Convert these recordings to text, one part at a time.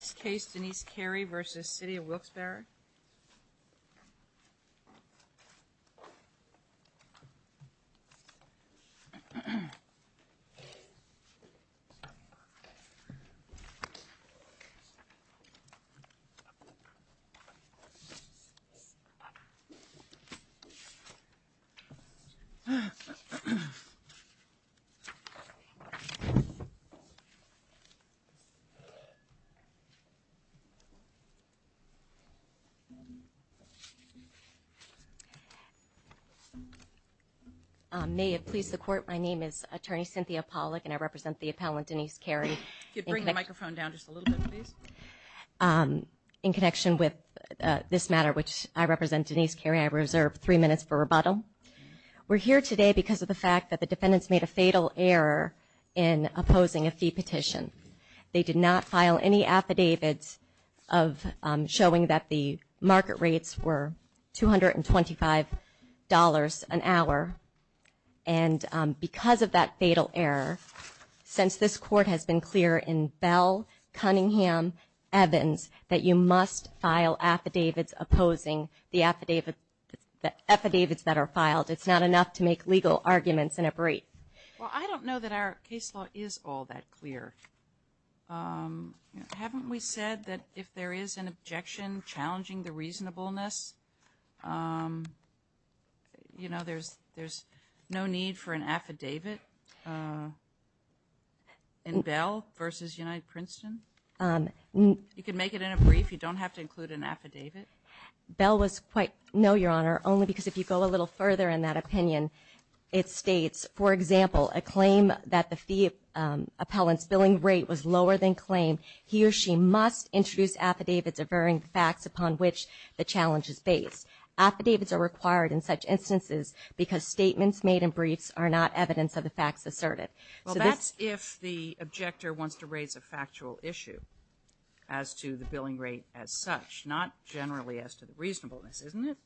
This case, Denise Carey v. Cityof Wilkes Barre May it please the Court, my name is Attorney Cynthia Pollack and I represent the appellant Denise Carey. Could you bring the microphone down just a little bit please? In connection with this matter, which I represent Denise Carey, I reserve three minutes for rebuttal. We're here today because of the fact that the defendants made a fatal error in opposing a fee petition. They did not file any affidavits of showing that the market rates were $225 an hour. And because of that fatal error, since this Court has been clear in Bell, Cunningham, Evans that you must file affidavits opposing the affidavits that are filed, it's not enough to make legal arguments in a brief. Well, I don't know that our case law is all that clear. Haven't we said that if there is an objection challenging the reasonableness, you know, there's no need for an affidavit in Bell v. United Princeton? You can make it in a brief. You don't have to include an affidavit. Bell was quite, no, Your Honor, only because if you go a little further in that opinion, it states, for example, a claim that the fee appellant's billing rate was lower than claimed, he or she must introduce affidavits averring the facts upon which the challenge is based. Affidavits are required in such instances because statements made in briefs are not evidence of the facts asserted. Well, that's if the objector wants to raise a factual issue as to the billing rate as such, not generally as to the reasonableness, isn't it?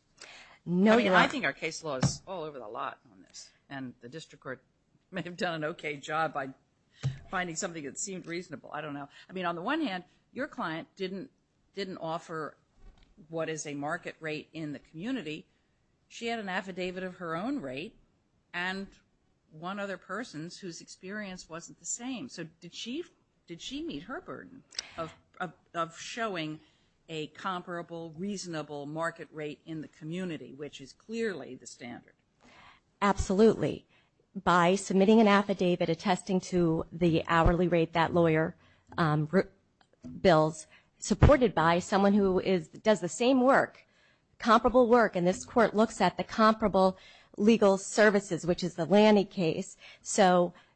No, Your Honor. I think our case law is all over the lot on this, and the district court may have done an okay job by finding something that seemed reasonable. I don't know. I mean, on the one hand, your client didn't offer what is a market rate in the community. She had an affidavit of her own rate and one other person's whose experience wasn't the same. So did she meet her burden of showing a comparable, reasonable market rate in the community that was clearly the standard? Absolutely. By submitting an affidavit attesting to the hourly rate that lawyer bills, supported by someone who does the same work, comparable work, and this court looks at the comparable legal services, which is the Lanny case.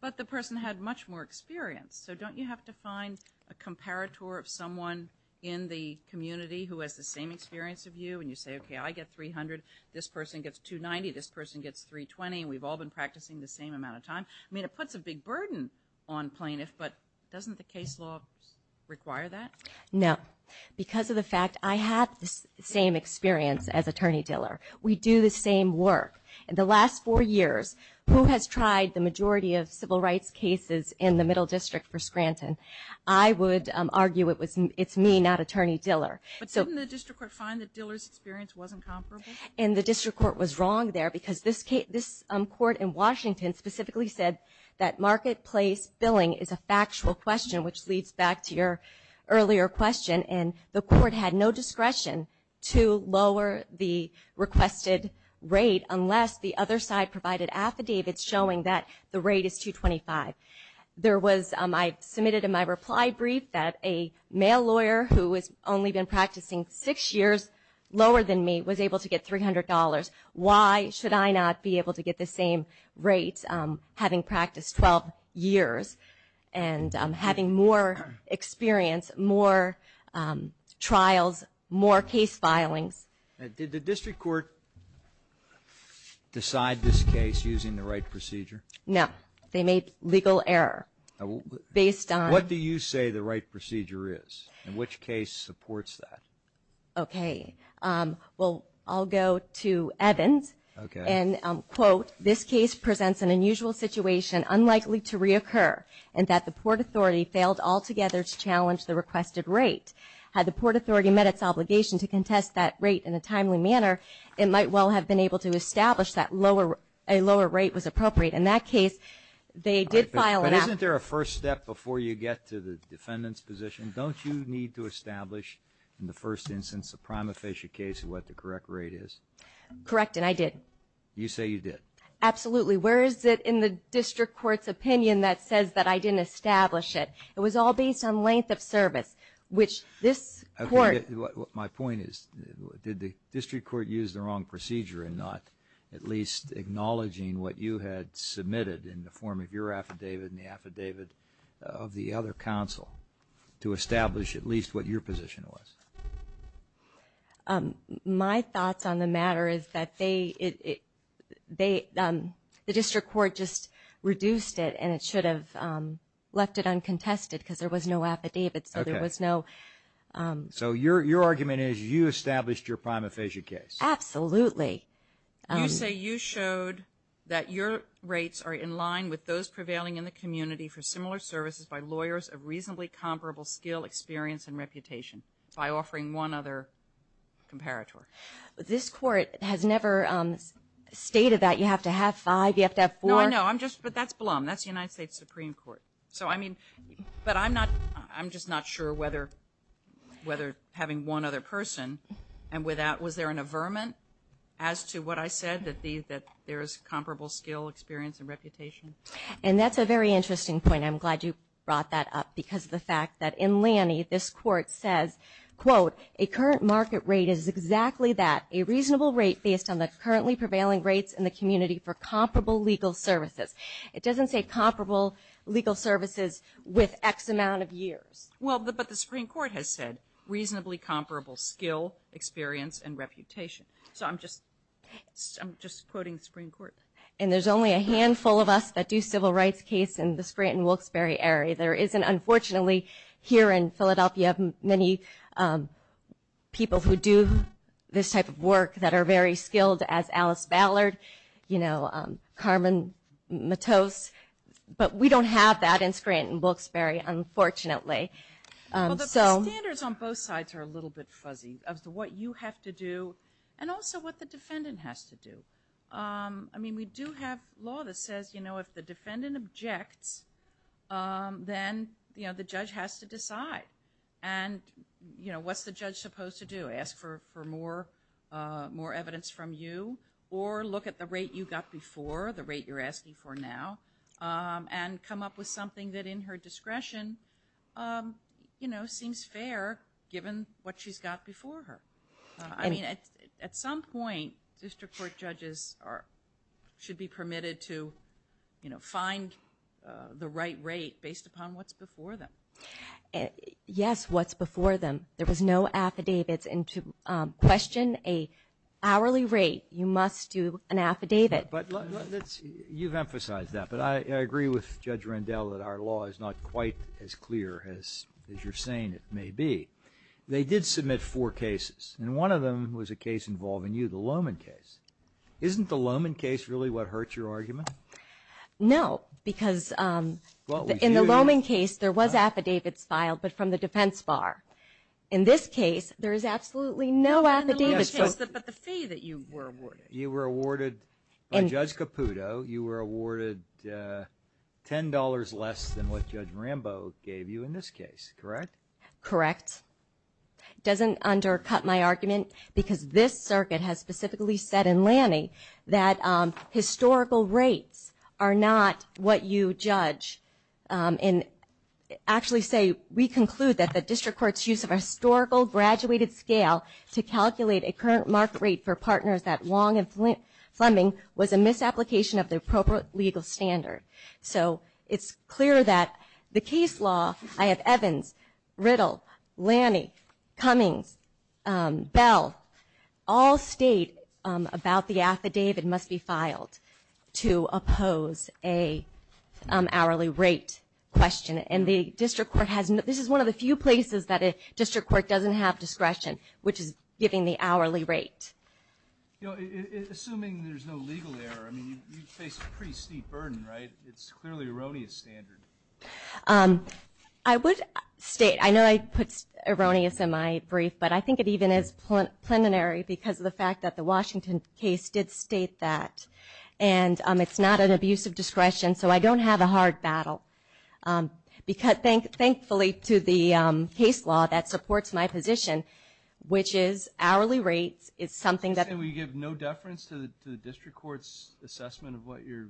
But the person had much more experience. So don't you have to find a comparator of someone in the community who has the same experience of you, and you say, okay, I get $300, this person gets $290, this person gets $320, and we've all been practicing the same amount of time? I mean, it puts a big burden on plaintiffs, but doesn't the case law require that? No. Because of the fact I have the same experience as Attorney Diller. We do the same work. In the last four years, who has tried the majority of civil rights cases in the middle district for Scranton? I would argue it's me, not Attorney Diller. But didn't the district court find that Diller's experience wasn't comparable? And the district court was wrong there, because this court in Washington specifically said that marketplace billing is a factual question, which leads back to your earlier question, and the court had no discretion to lower the requested rate unless the other side provided affidavits showing that the rate is $225. There was, I submitted in my reply brief that a male lawyer who has only been practicing six years lower than me was able to get $300. Why should I not be able to get the same rate having practiced 12 years and having more experience, more trials, more case filings? Did the district court decide this case using the right procedure? No. They made legal error based on... What do you say the right procedure is? And which case supports that? Okay. Well, I'll go to Evans. Okay. And, quote, this case presents an unusual situation unlikely to reoccur, and that the Port Authority failed altogether to challenge the requested rate. Had the Port Authority met its obligation to contest that rate in a timely manner, it might well have been able to establish that a lower rate was appropriate. In that case, they did file an... But isn't there a first step before you get to the defendant's position? Don't you need to establish, in the first instance, a prima facie case of what the correct rate is? Correct, and I did. You say you did. Absolutely. Where is it in the district court's opinion that says that I didn't establish it? It was all based on length of service, which this court... Okay. My point is, did the district court use the wrong procedure in not at least acknowledging what you had submitted in the form of your affidavit and the affidavit of the other counsel to establish at least what your position was? My thoughts on the matter is that they... The district court just reduced it, and it should have left it uncontested because there was no affidavit, so there was no... So your argument is you established your prima facie case? Absolutely. Okay. You say you showed that your rates are in line with those prevailing in the community for similar services by lawyers of reasonably comparable skill, experience, and reputation by offering one other comparator. This court has never stated that you have to have five, you have to have four... No, I know. I'm just... But that's Blum. That's the United States Supreme Court. So, I mean... But I'm not... I'm just not sure whether having one other person and without... As to what I said, that there is comparable skill, experience, and reputation. And that's a very interesting point. I'm glad you brought that up because of the fact that in Laney, this court says, quote, a current market rate is exactly that, a reasonable rate based on the currently prevailing rates in the community for comparable legal services. It doesn't say comparable legal services with X amount of years. Well, but the Supreme Court has said reasonably comparable skill, experience, and reputation. So, I'm just quoting the Supreme Court. And there's only a handful of us that do civil rights case in the Scranton-Wilkes-Barre area. There isn't, unfortunately, here in Philadelphia, many people who do this type of work that are very skilled as Alice Ballard, you know, Carmen Matos. But we don't have that in Scranton-Wilkes-Barre, unfortunately. Well, the standards on both sides are a little bit fuzzy as to what you have to do and also what the defendant has to do. I mean, we do have law that says, you know, if the defendant objects, then, you know, the judge has to decide. And, you know, what's the judge supposed to do, ask for more evidence from you or look at the rate you got before, the rate you're asking for now, and come up with something that in her discretion, you know, seems fair given what she's got before her. I mean, at some point, district court judges should be permitted to, you know, find the right rate based upon what's before them. Yes, what's before them. There was no affidavits. And to question an hourly rate, you must do an affidavit. You've emphasized that. But I agree with Judge Rendell that our law is not quite as clear as you're saying it may be. They did submit four cases, and one of them was a case involving you, the Loman case. Isn't the Loman case really what hurt your argument? No, because in the Loman case, there was affidavits filed, but from the defense bar. In this case, there is absolutely no affidavits. But the fee that you were awarded. By Judge Caputo, you were awarded $10 less than what Judge Rambo gave you in this case, correct? Correct. It doesn't undercut my argument because this circuit has specifically said in Lanning that historical rates are not what you judge. And actually say we conclude that the district court's use of a historical graduated scale to calculate a current market rate for partners that long in Fleming was a misapplication of the appropriate legal standard. So it's clear that the case law, I have Evans, Riddle, Lanning, Cummings, Bell, all state about the affidavit must be filed to oppose an hourly rate question. This is one of the few places that a district court doesn't have discretion, which is giving the hourly rate. Assuming there's no legal error, you face a pretty steep burden, right? It's clearly an erroneous standard. I would state, I know I put erroneous in my brief, but I think it even is plenary because of the fact that the Washington case did state that. And it's not an abuse of discretion, so I don't have a hard battle. Thankfully to the case law that supports my position, which is hourly rates is something that... You're saying we give no deference to the district court's assessment of what your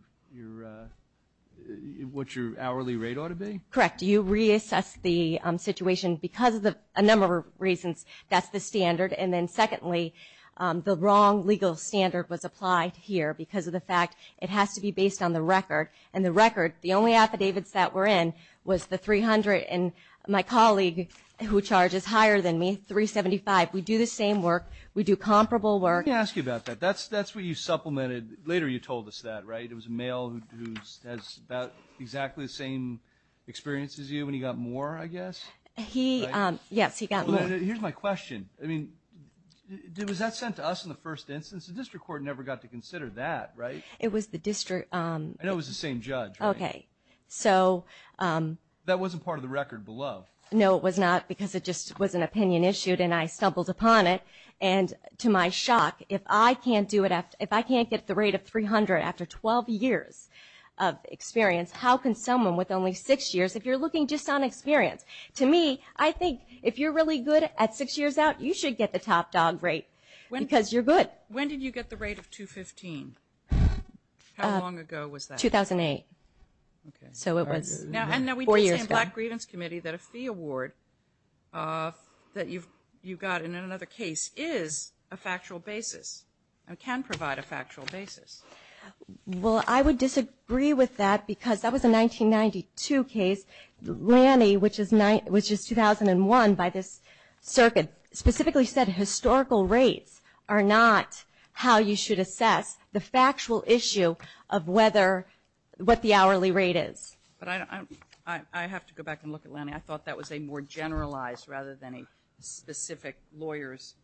hourly rate ought to be? Correct. You reassess the situation because of a number of reasons. That's the standard. And then secondly, the wrong legal standard was applied here because of the fact it has to be based on the record. And the record, the only affidavits that were in was the 300 and my colleague who charges higher than me, 375. We do the same work. We do comparable work. Let me ask you about that. That's what you supplemented. Later you told us that, right? It was a male who has about exactly the same experience as you when he got more, I guess? Yes, he got more. Here's my question. I mean, was that sent to us in the first instance? The district court never got to consider that, right? It was the district... I know it was the same judge. Okay, so... That wasn't part of the record below. No, it was not because it just was an opinion issued and I stumbled upon it. And to my shock, if I can't get the rate of 300 after 12 years of experience, how can someone with only six years, if you're looking just on experience? To me, I think if you're really good at six years out, you should get the top dog rate because you're good. When did you get the rate of 215? How long ago was that? 2008. So it was four years ago. And now we did say in the Black Grievance Committee that a fee award that you got in another case is a factual basis and can provide a factual basis. Well, I would disagree with that because that was a 1992 case. Lanny, which is 2001 by this circuit, specifically said historical rates are not how you should assess the factual issue of what the hourly rate is. But I have to go back and look at Lanny. I thought that was a more generalized rather than a specific lawyer's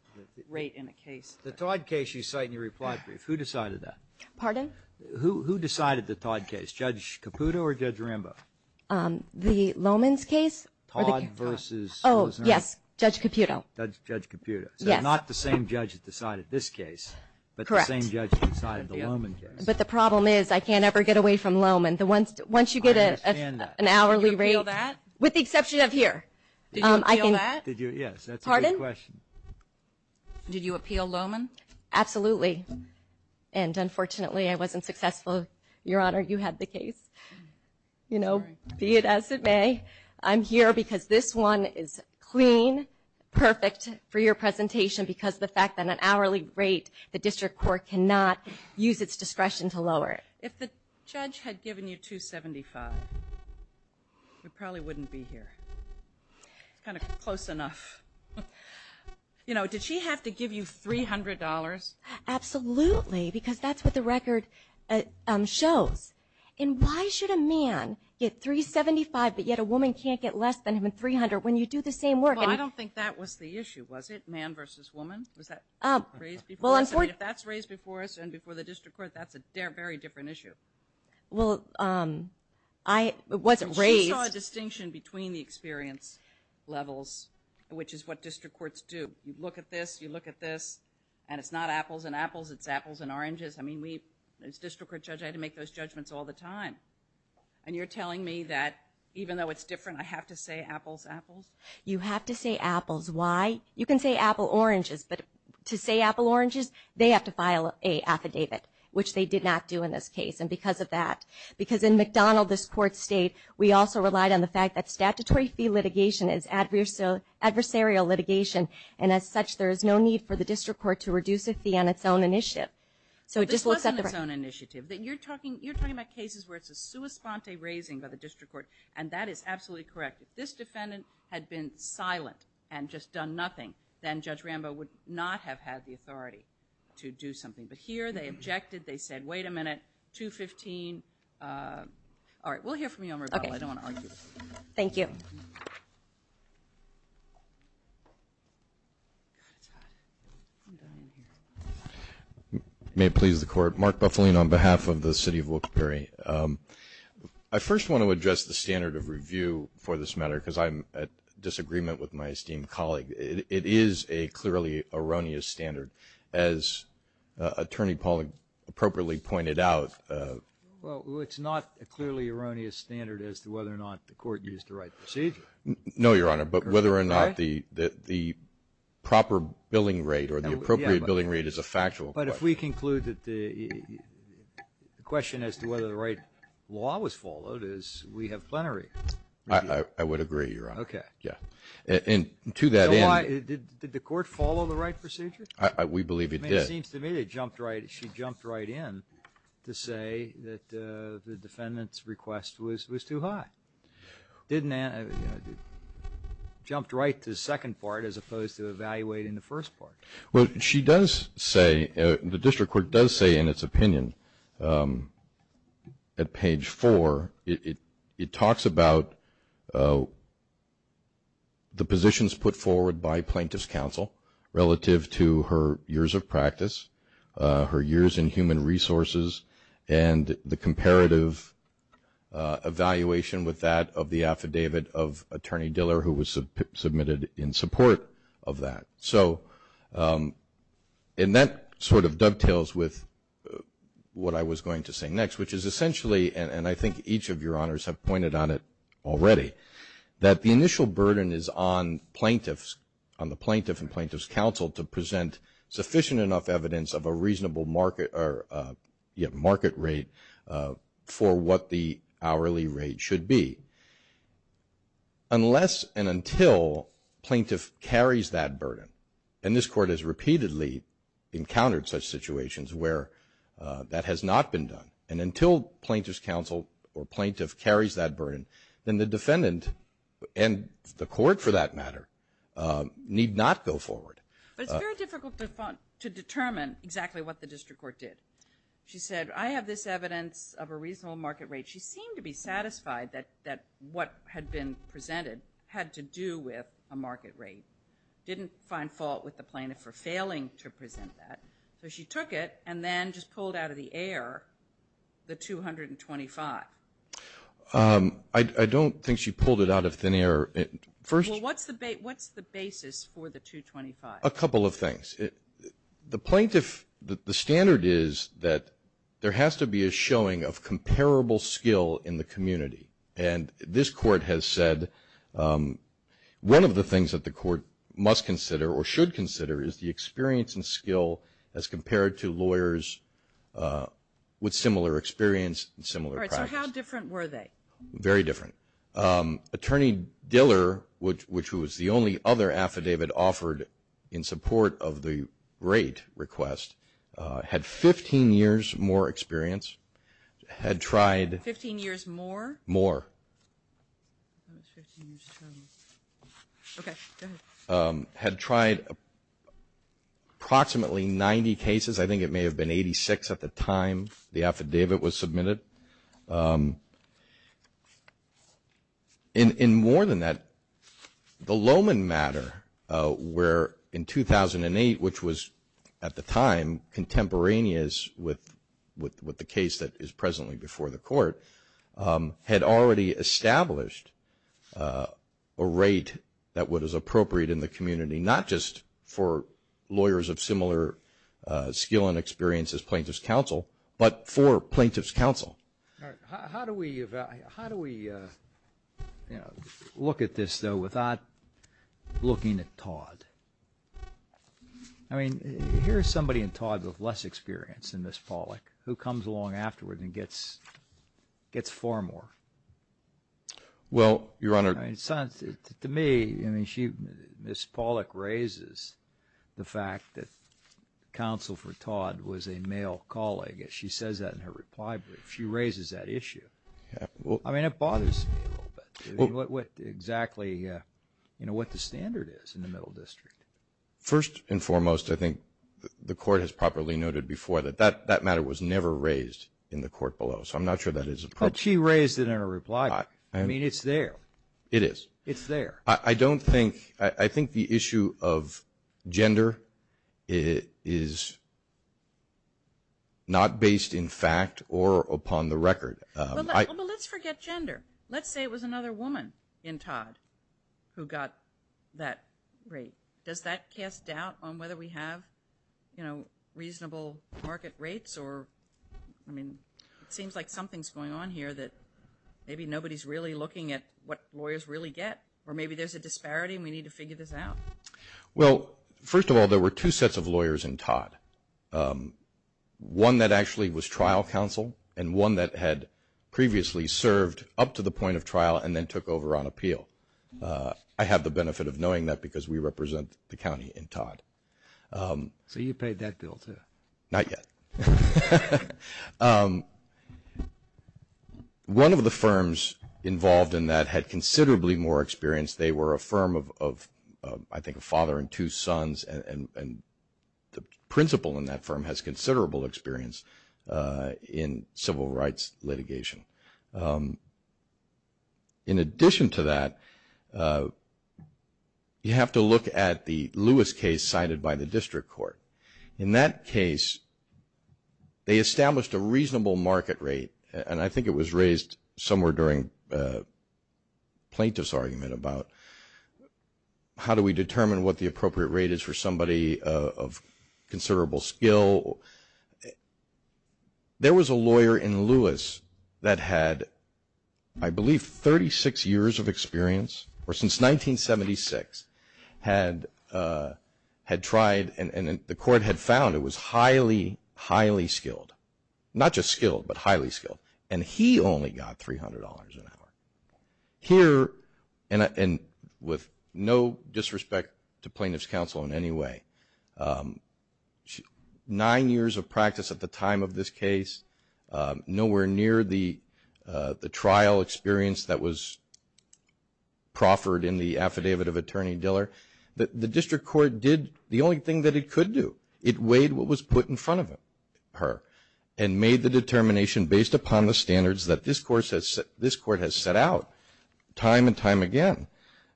rate in a case. The Todd case you cite in your reply brief, who decided that? Pardon? Who decided the Todd case, Judge Caputo or Judge Rambo? The Loman's case? Todd versus? Oh, yes, Judge Caputo. Judge Caputo. Yes. So not the same judge that decided this case, but the same judge that decided the Loman case. But the problem is I can't ever get away from Loman. I understand that. Once you get an hourly rate. Did you appeal that? With the exception of here. Did you appeal that? Yes, that's a good question. Pardon? Did you appeal Loman? Absolutely. And unfortunately, I wasn't successful, Your Honor. You had the case. You know, be it as it may, I'm here because this one is clean, perfect for your presentation because of the fact that an hourly rate, the district court cannot use its discretion to lower it. If the judge had given you $275, you probably wouldn't be here. It's kind of close enough. You know, did she have to give you $300? Absolutely, because that's what the record shows. And why should a man get $375, but yet a woman can't get less than $300 when you do the same work? Well, I don't think that was the issue, was it, man versus woman? Was that raised before us? If that's raised before us and before the district court, that's a very different issue. Well, I wasn't raised. She saw a distinction between the experience levels, which is what district courts do. You look at this, you look at this, and it's not apples and apples, it's apples and oranges. I mean, as district court judge, I had to make those judgments all the time. And you're telling me that even though it's different, I have to say apples, apples? You have to say apples. Why? You can say apple, oranges, but to say apple, oranges, they have to file an affidavit, which they did not do in this case, and because of that. Because in McDonald, this court state, we also relied on the fact that statutory fee litigation is adversarial litigation, and as such, there is no need for the district court to reduce a fee on its own initiative. This wasn't its own initiative. You're talking about cases where it's a sua sponte raising by the district court, and that is absolutely correct. If this defendant had been silent and just done nothing, then Judge Rambo would not have had the authority to do something. But here, they objected, they said, wait a minute, 215. All right, we'll hear from you on rebuttal. I don't want to argue with you. Thank you. May it please the Court. Mark Buffalino on behalf of the City of Wilkes-Barre. I first want to address the standard of review for this matter because I'm at disagreement with my esteemed colleague. It is a clearly erroneous standard, as Attorney Pollack appropriately pointed out. Well, it's not a clearly erroneous standard as to whether or not the court used the right procedure. No, Your Honor, but whether or not the proper billing rate or the appropriate billing rate is a factual question. But if we conclude that the question as to whether the right law was followed is we have plenary review. I would agree, Your Honor. Okay. And to that end. Did the court follow the right procedure? We believe it did. It seems to me that she jumped right in to say that the defendant's request was too high. Jumped right to the second part as opposed to evaluating the first part. Well, she does say, the district court does say in its opinion at page 4, it talks about the positions put forward by plaintiff's counsel relative to her years of practice, her years in human resources, and the comparative evaluation with that of the affidavit of Attorney Diller who was submitted in support of that. So, and that sort of dovetails with what I was going to say next, which is essentially, and I think each of Your Honors have pointed on it already, that the initial burden is on plaintiffs, on the plaintiff and plaintiff's counsel, to present sufficient enough evidence of a reasonable market rate for what the hourly rate should be. Unless and until plaintiff carries that burden, and this court has repeatedly encountered such situations where that has not been done, and until plaintiff's counsel or plaintiff carries that burden, then the defendant and the court for that matter need not go forward. But it's very difficult to determine exactly what the district court did. She said, I have this evidence of a reasonable market rate. She seemed to be satisfied that what had been presented had to do with a market rate. Didn't find fault with the plaintiff for failing to present that. So she took it and then just pulled out of the air the 225. I don't think she pulled it out of thin air. Well, what's the basis for the 225? A couple of things. The plaintiff, the standard is that there has to be a showing of comparable skill in the community, and this court has said one of the things that the court must consider or should consider is the experience and skill as compared to lawyers with similar experience and similar practice. All right. So how different were they? Very different. Attorney Diller, which was the only other affidavit offered in support of the rate request, had 15 years more experience, had tried. Fifteen years more? More. That's 15 years. Okay. Go ahead. Had tried approximately 90 cases. I think it may have been 86 at the time the affidavit was submitted. And more than that, the Lowman matter, where in 2008, which was at the time contemporaneous with the case that is presently before the court, had already established a rate that was appropriate in the community, not just for lawyers of similar skill and experience as plaintiff's counsel, but for plaintiff's counsel. All right. How do we look at this, though, without looking at Todd? I mean, here's somebody in Todd with less experience than Ms. Pollack who comes along afterward and gets far more. Well, Your Honor. To me, Ms. Pollack raises the fact that counsel for Todd was a male colleague. She says that in her reply brief. She raises that issue. I mean, it bothers me a little bit, exactly what the standard is in the Middle District. First and foremost, I think the Court has properly noted before that that matter was never raised in the court below. So I'm not sure that is appropriate. But she raised it in her reply. I mean, it's there. It is. It's there. I don't think the issue of gender is not based in fact or upon the record. Well, let's forget gender. Let's say it was another woman in Todd who got that rate. Does that cast doubt on whether we have, you know, reasonable market rates? Or, I mean, it seems like something's going on here that maybe nobody's really looking at what lawyers really get, or maybe there's a disparity and we need to figure this out. Well, first of all, there were two sets of lawyers in Todd, one that actually was trial counsel and one that had previously served up to the point of trial and then took over on appeal. I have the benefit of knowing that because we represent the county in Todd. So you paid that bill too? Not yet. One of the firms involved in that had considerably more experience. They were a firm of, I think, a father and two sons, and the principal in that firm has considerable experience in civil rights litigation. In addition to that, you have to look at the Lewis case cited by the district court. In that case, they established a reasonable market rate, and I think it was raised somewhere during plaintiff's argument about how do we hire somebody of considerable skill. There was a lawyer in Lewis that had, I believe, 36 years of experience or since 1976 had tried and the court had found it was highly, highly skilled, not just skilled but highly skilled, and he only got $300 an hour. Here, and with no disrespect to plaintiff's counsel in any way, nine years of practice at the time of this case, nowhere near the trial experience that was proffered in the affidavit of Attorney Diller. The district court did the only thing that it could do. It weighed what was put in front of her and made the determination based upon the standards that this court has set out time and time again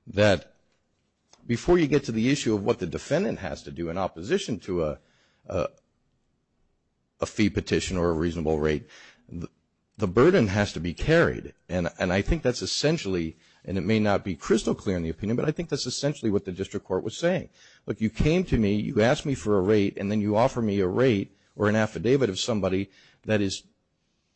that before you get to the issue of what the defendant has to do in opposition to a fee petition or a reasonable rate, the burden has to be carried. And I think that's essentially, and it may not be crystal clear in the opinion, but I think that's essentially what the district court was saying. Look, you came to me, you asked me for a rate, and then you offer me a rate or an affidavit of somebody that is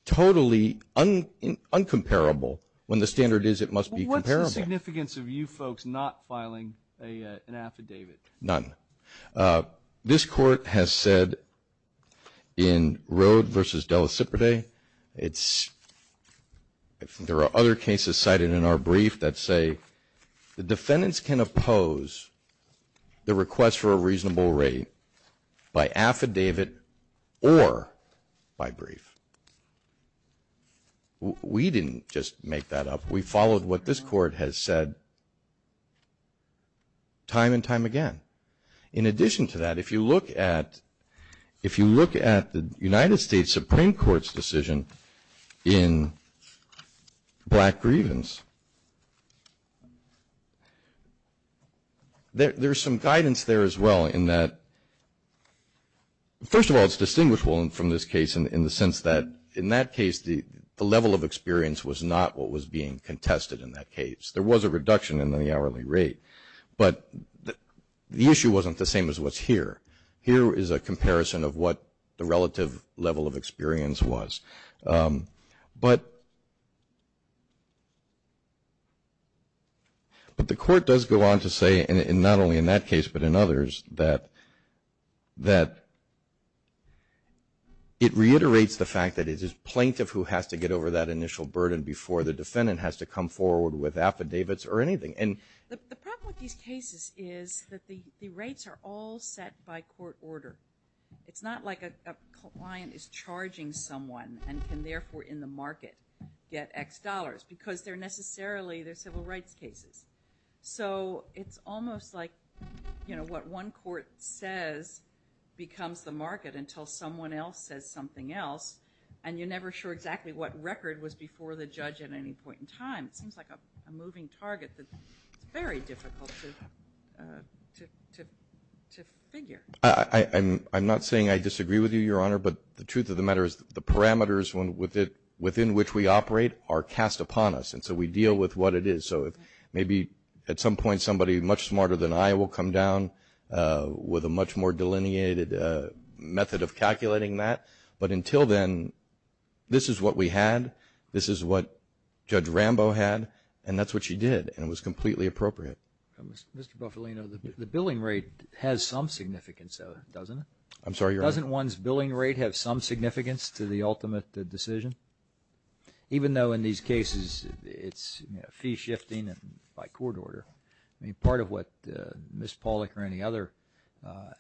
totally uncomparable. When the standard is, it must be comparable. What's the significance of you folks not filing an affidavit? None. This court has said in Rhode v. De La Cipre, there are other cases cited in our brief that say the defendants can oppose the request for a reasonable rate by affidavit or by brief. We didn't just make that up. We followed what this court has said time and time again. In addition to that, if you look at the United States Supreme Court's decision in black grievance, there's some guidance there as well in that, first of all, it's distinguishable from this case in the sense that in that case the level of experience was not what was being contested in that case. There was a reduction in the hourly rate, but the issue wasn't the same as what's here. Here is a comparison of what the relative level of experience was. But the court does go on to say, not only in that case but in others, that it reiterates the fact that it is plaintiff who has to get over that initial burden before the defendant has to come forward with affidavits or anything. The problem with these cases is that the rates are all set by court order. It's not like a client is charging someone and can therefore in the market get X dollars because they're necessarily civil rights cases. So it's almost like what one court says becomes the market until someone else says something else, and you're never sure exactly what record was before the judge at any point in time. It seems like a moving target that's very difficult to figure. I'm not saying I disagree with you, Your Honor, but the truth of the matter is the parameters within which we operate are cast upon us, and so we deal with what it is. So maybe at some point somebody much smarter than I will come down with a much more delineated method of calculating that. But until then, this is what we had, this is what Judge Rambo had, and that's what she did, and it was completely appropriate. Mr. Buffalino, the billing rate has some significance, doesn't it? I'm sorry, Your Honor. Doesn't one's billing rate have some significance to the ultimate decision? Even though in these cases it's fee shifting by court order, part of what Ms. Pollack or any other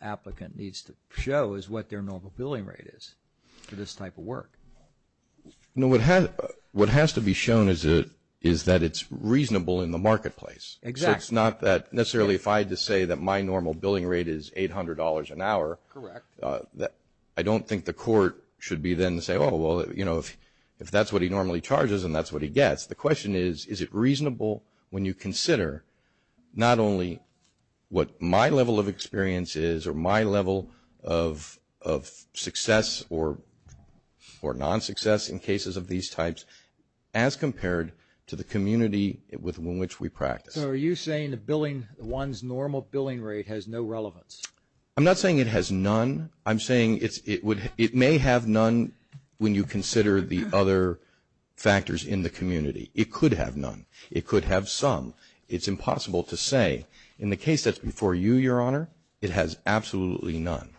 applicant needs to show is what their normal billing rate is for this type of work. What has to be shown is that it's reasonable in the marketplace. Exactly. So it's not that necessarily if I had to say that my normal billing rate is $800 an hour, I don't think the court should be then to say, oh, well, if that's what he normally charges and that's what he gets. The question is, is it reasonable when you consider not only what my level of experience is or my level of success or non-success in cases of these types as compared to the community with which we practice? So are you saying one's normal billing rate has no relevance? I'm not saying it has none. I'm saying it may have none when you consider the other factors in the community. It could have none. It could have some. It's impossible to say. In the case that's before you, Your Honor, it has absolutely none.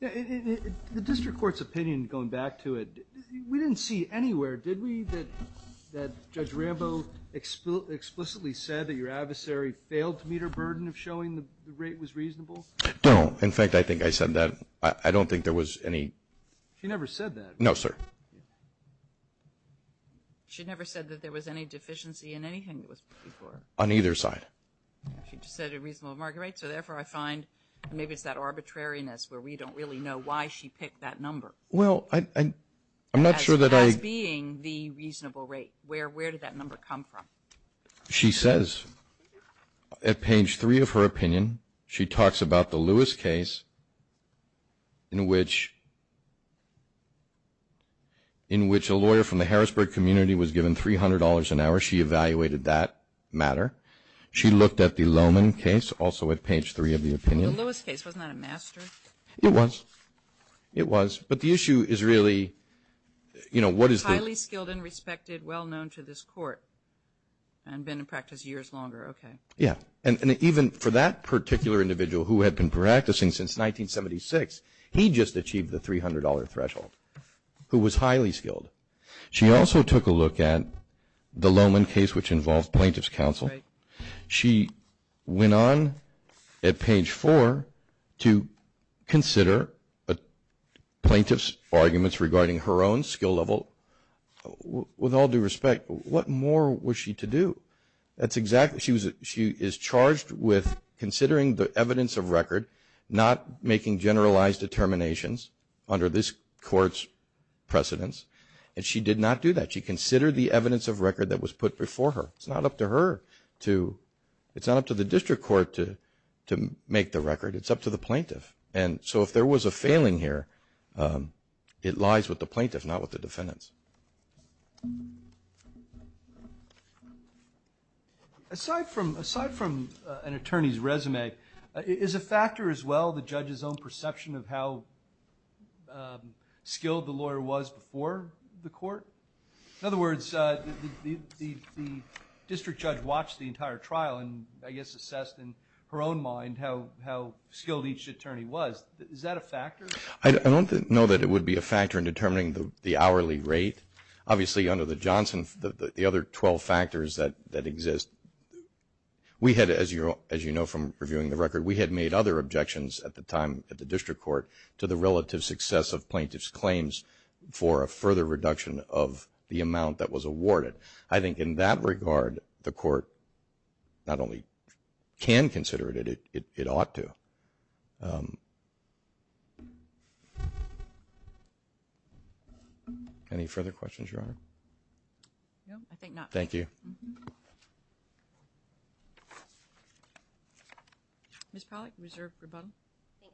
The district court's opinion, going back to it, we didn't see anywhere, did we, that Judge Rambo explicitly said that your adversary failed to meet her burden of showing the rate was reasonable? No. In fact, I think I said that. I don't think there was any. She never said that. No, sir. She never said that there was any deficiency in anything that was before her. On either side. She just said a reasonable market rate, so therefore I find maybe it's that arbitrariness where we don't really know why she picked that number. Well, I'm not sure that I. As being the reasonable rate. Where did that number come from? She says, at page three of her opinion, she talks about the Lewis case, in which a lawyer from the Harrisburg community was given $300 an hour. She evaluated that matter. She looked at the Lohman case, also at page three of the opinion. The Lewis case, wasn't that a master? It was. It was. But the issue is really, you know, what is the. Highly skilled and respected, well known to this court, and been in practice years longer. Okay. Yeah. And even for that particular individual who had been practicing since 1976, he just achieved the $300 threshold, who was highly skilled. She also took a look at the Lohman case, which involved plaintiff's counsel. Right. She went on at page four to consider a plaintiff's arguments regarding her own skill level. With all due respect, what more was she to do? That's exactly. She is charged with considering the evidence of record, not making generalized determinations under this court's precedence. And she did not do that. She considered the evidence of record that was put before her. It's not up to her to. It's not up to the district court to make the record. It's up to the plaintiff. And so if there was a failing here, it lies with the plaintiff, not with the defendants. Aside from an attorney's resume, is a factor as well the judge's own perception of how skilled the lawyer was before the court? In other words, the district judge watched the entire trial and I guess assessed in her own mind how skilled each attorney was. Is that a factor? I don't know that it would be a factor in determining the hourly rate. Obviously, under the Johnson, the other 12 factors that exist. We had, as you know from reviewing the record, we had made other objections at the time at the district court to the relative success of plaintiff's claims for a further reduction of the amount that was awarded. I think in that regard, the court not only can consider it, it ought to. Any further questions, Your Honor? No, I think not. Thank you. Ms. Pollack, reserve rebuttal. Thank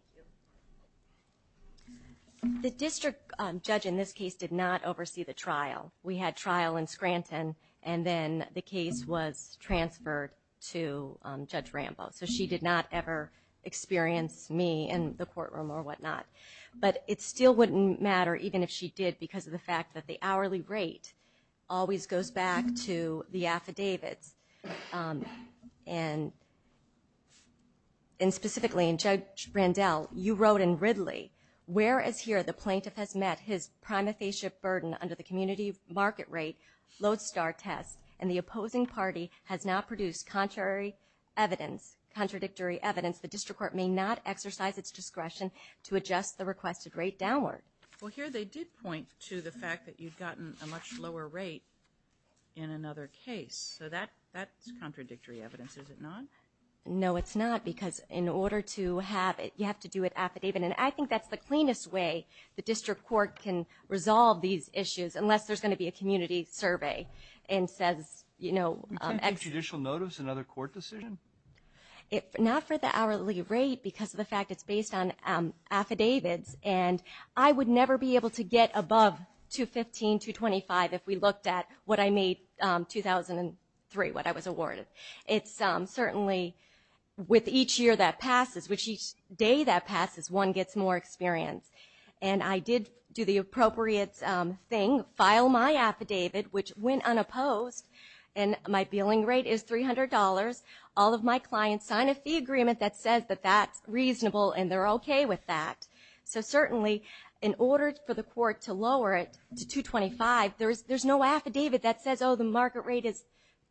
you. The district judge in this case did not oversee the trial. We had trial in Scranton and then the case was transferred to Judge Rambo. So she did not ever experience me in the courtroom or whatnot. But it still wouldn't matter, even if she did, because of the fact that the hourly rate always goes back to the affidavits. And specifically, Judge Randell, you wrote in Ridley, where as here the plaintiff has met his prima facie burden under the community market rate load star test and the opposing party has now produced contrary evidence, contradictory evidence, the district court may not exercise its discretion to adjust the requested rate downward. Well, here they did point to the fact that you've gotten a much lower rate in another case. So that's contradictory evidence, is it not? No, it's not, because in order to have it, you have to do an affidavit. And I think that's the cleanest way the district court can resolve these issues, unless there's going to be a community survey and says, you know, You can't take judicial notice in another court decision? Not for the hourly rate, because of the fact it's based on affidavits. And I would never be able to get above 215, 225 if we looked at what I made in 2003, what I was awarded. It's certainly with each year that passes, with each day that passes, one gets more experience. And I did do the appropriate thing, file my affidavit, which went unopposed, and my billing rate is $300. All of my clients sign a fee agreement that says that that's reasonable and they're okay with that. So certainly, in order for the court to lower it to 225, there's no affidavit that says, Oh, the market rate is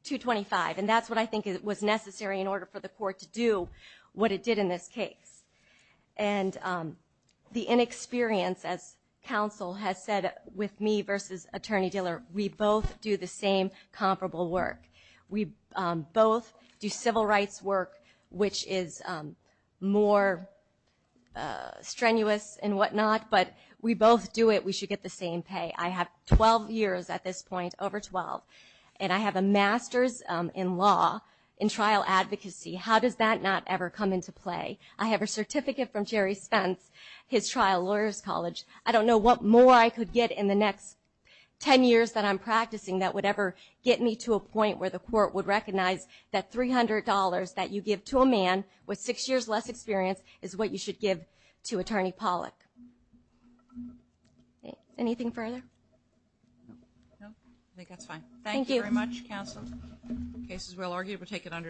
225. And that's what I think was necessary in order for the court to do what it did in this case. And the inexperience, as counsel has said, with me versus attorney-dealer, we both do the same comparable work. We both do civil rights work, which is more strenuous and whatnot. But we both do it, we should get the same pay. I have 12 years at this point, over 12, and I have a master's in law, in trial advocacy. How does that not ever come into play? I have a certificate from Jerry Spence, his trial lawyers college. I don't know what more I could get in the next 10 years that I'm practicing that would ever get me to a point where the court would recognize that $300 that you give to a man with six years less experience is what you should give to attorney Pollack. Anything further? No, I think that's fine. Thank you. Thank you very much, counsel. The case is well argued. We'll take it under discussion.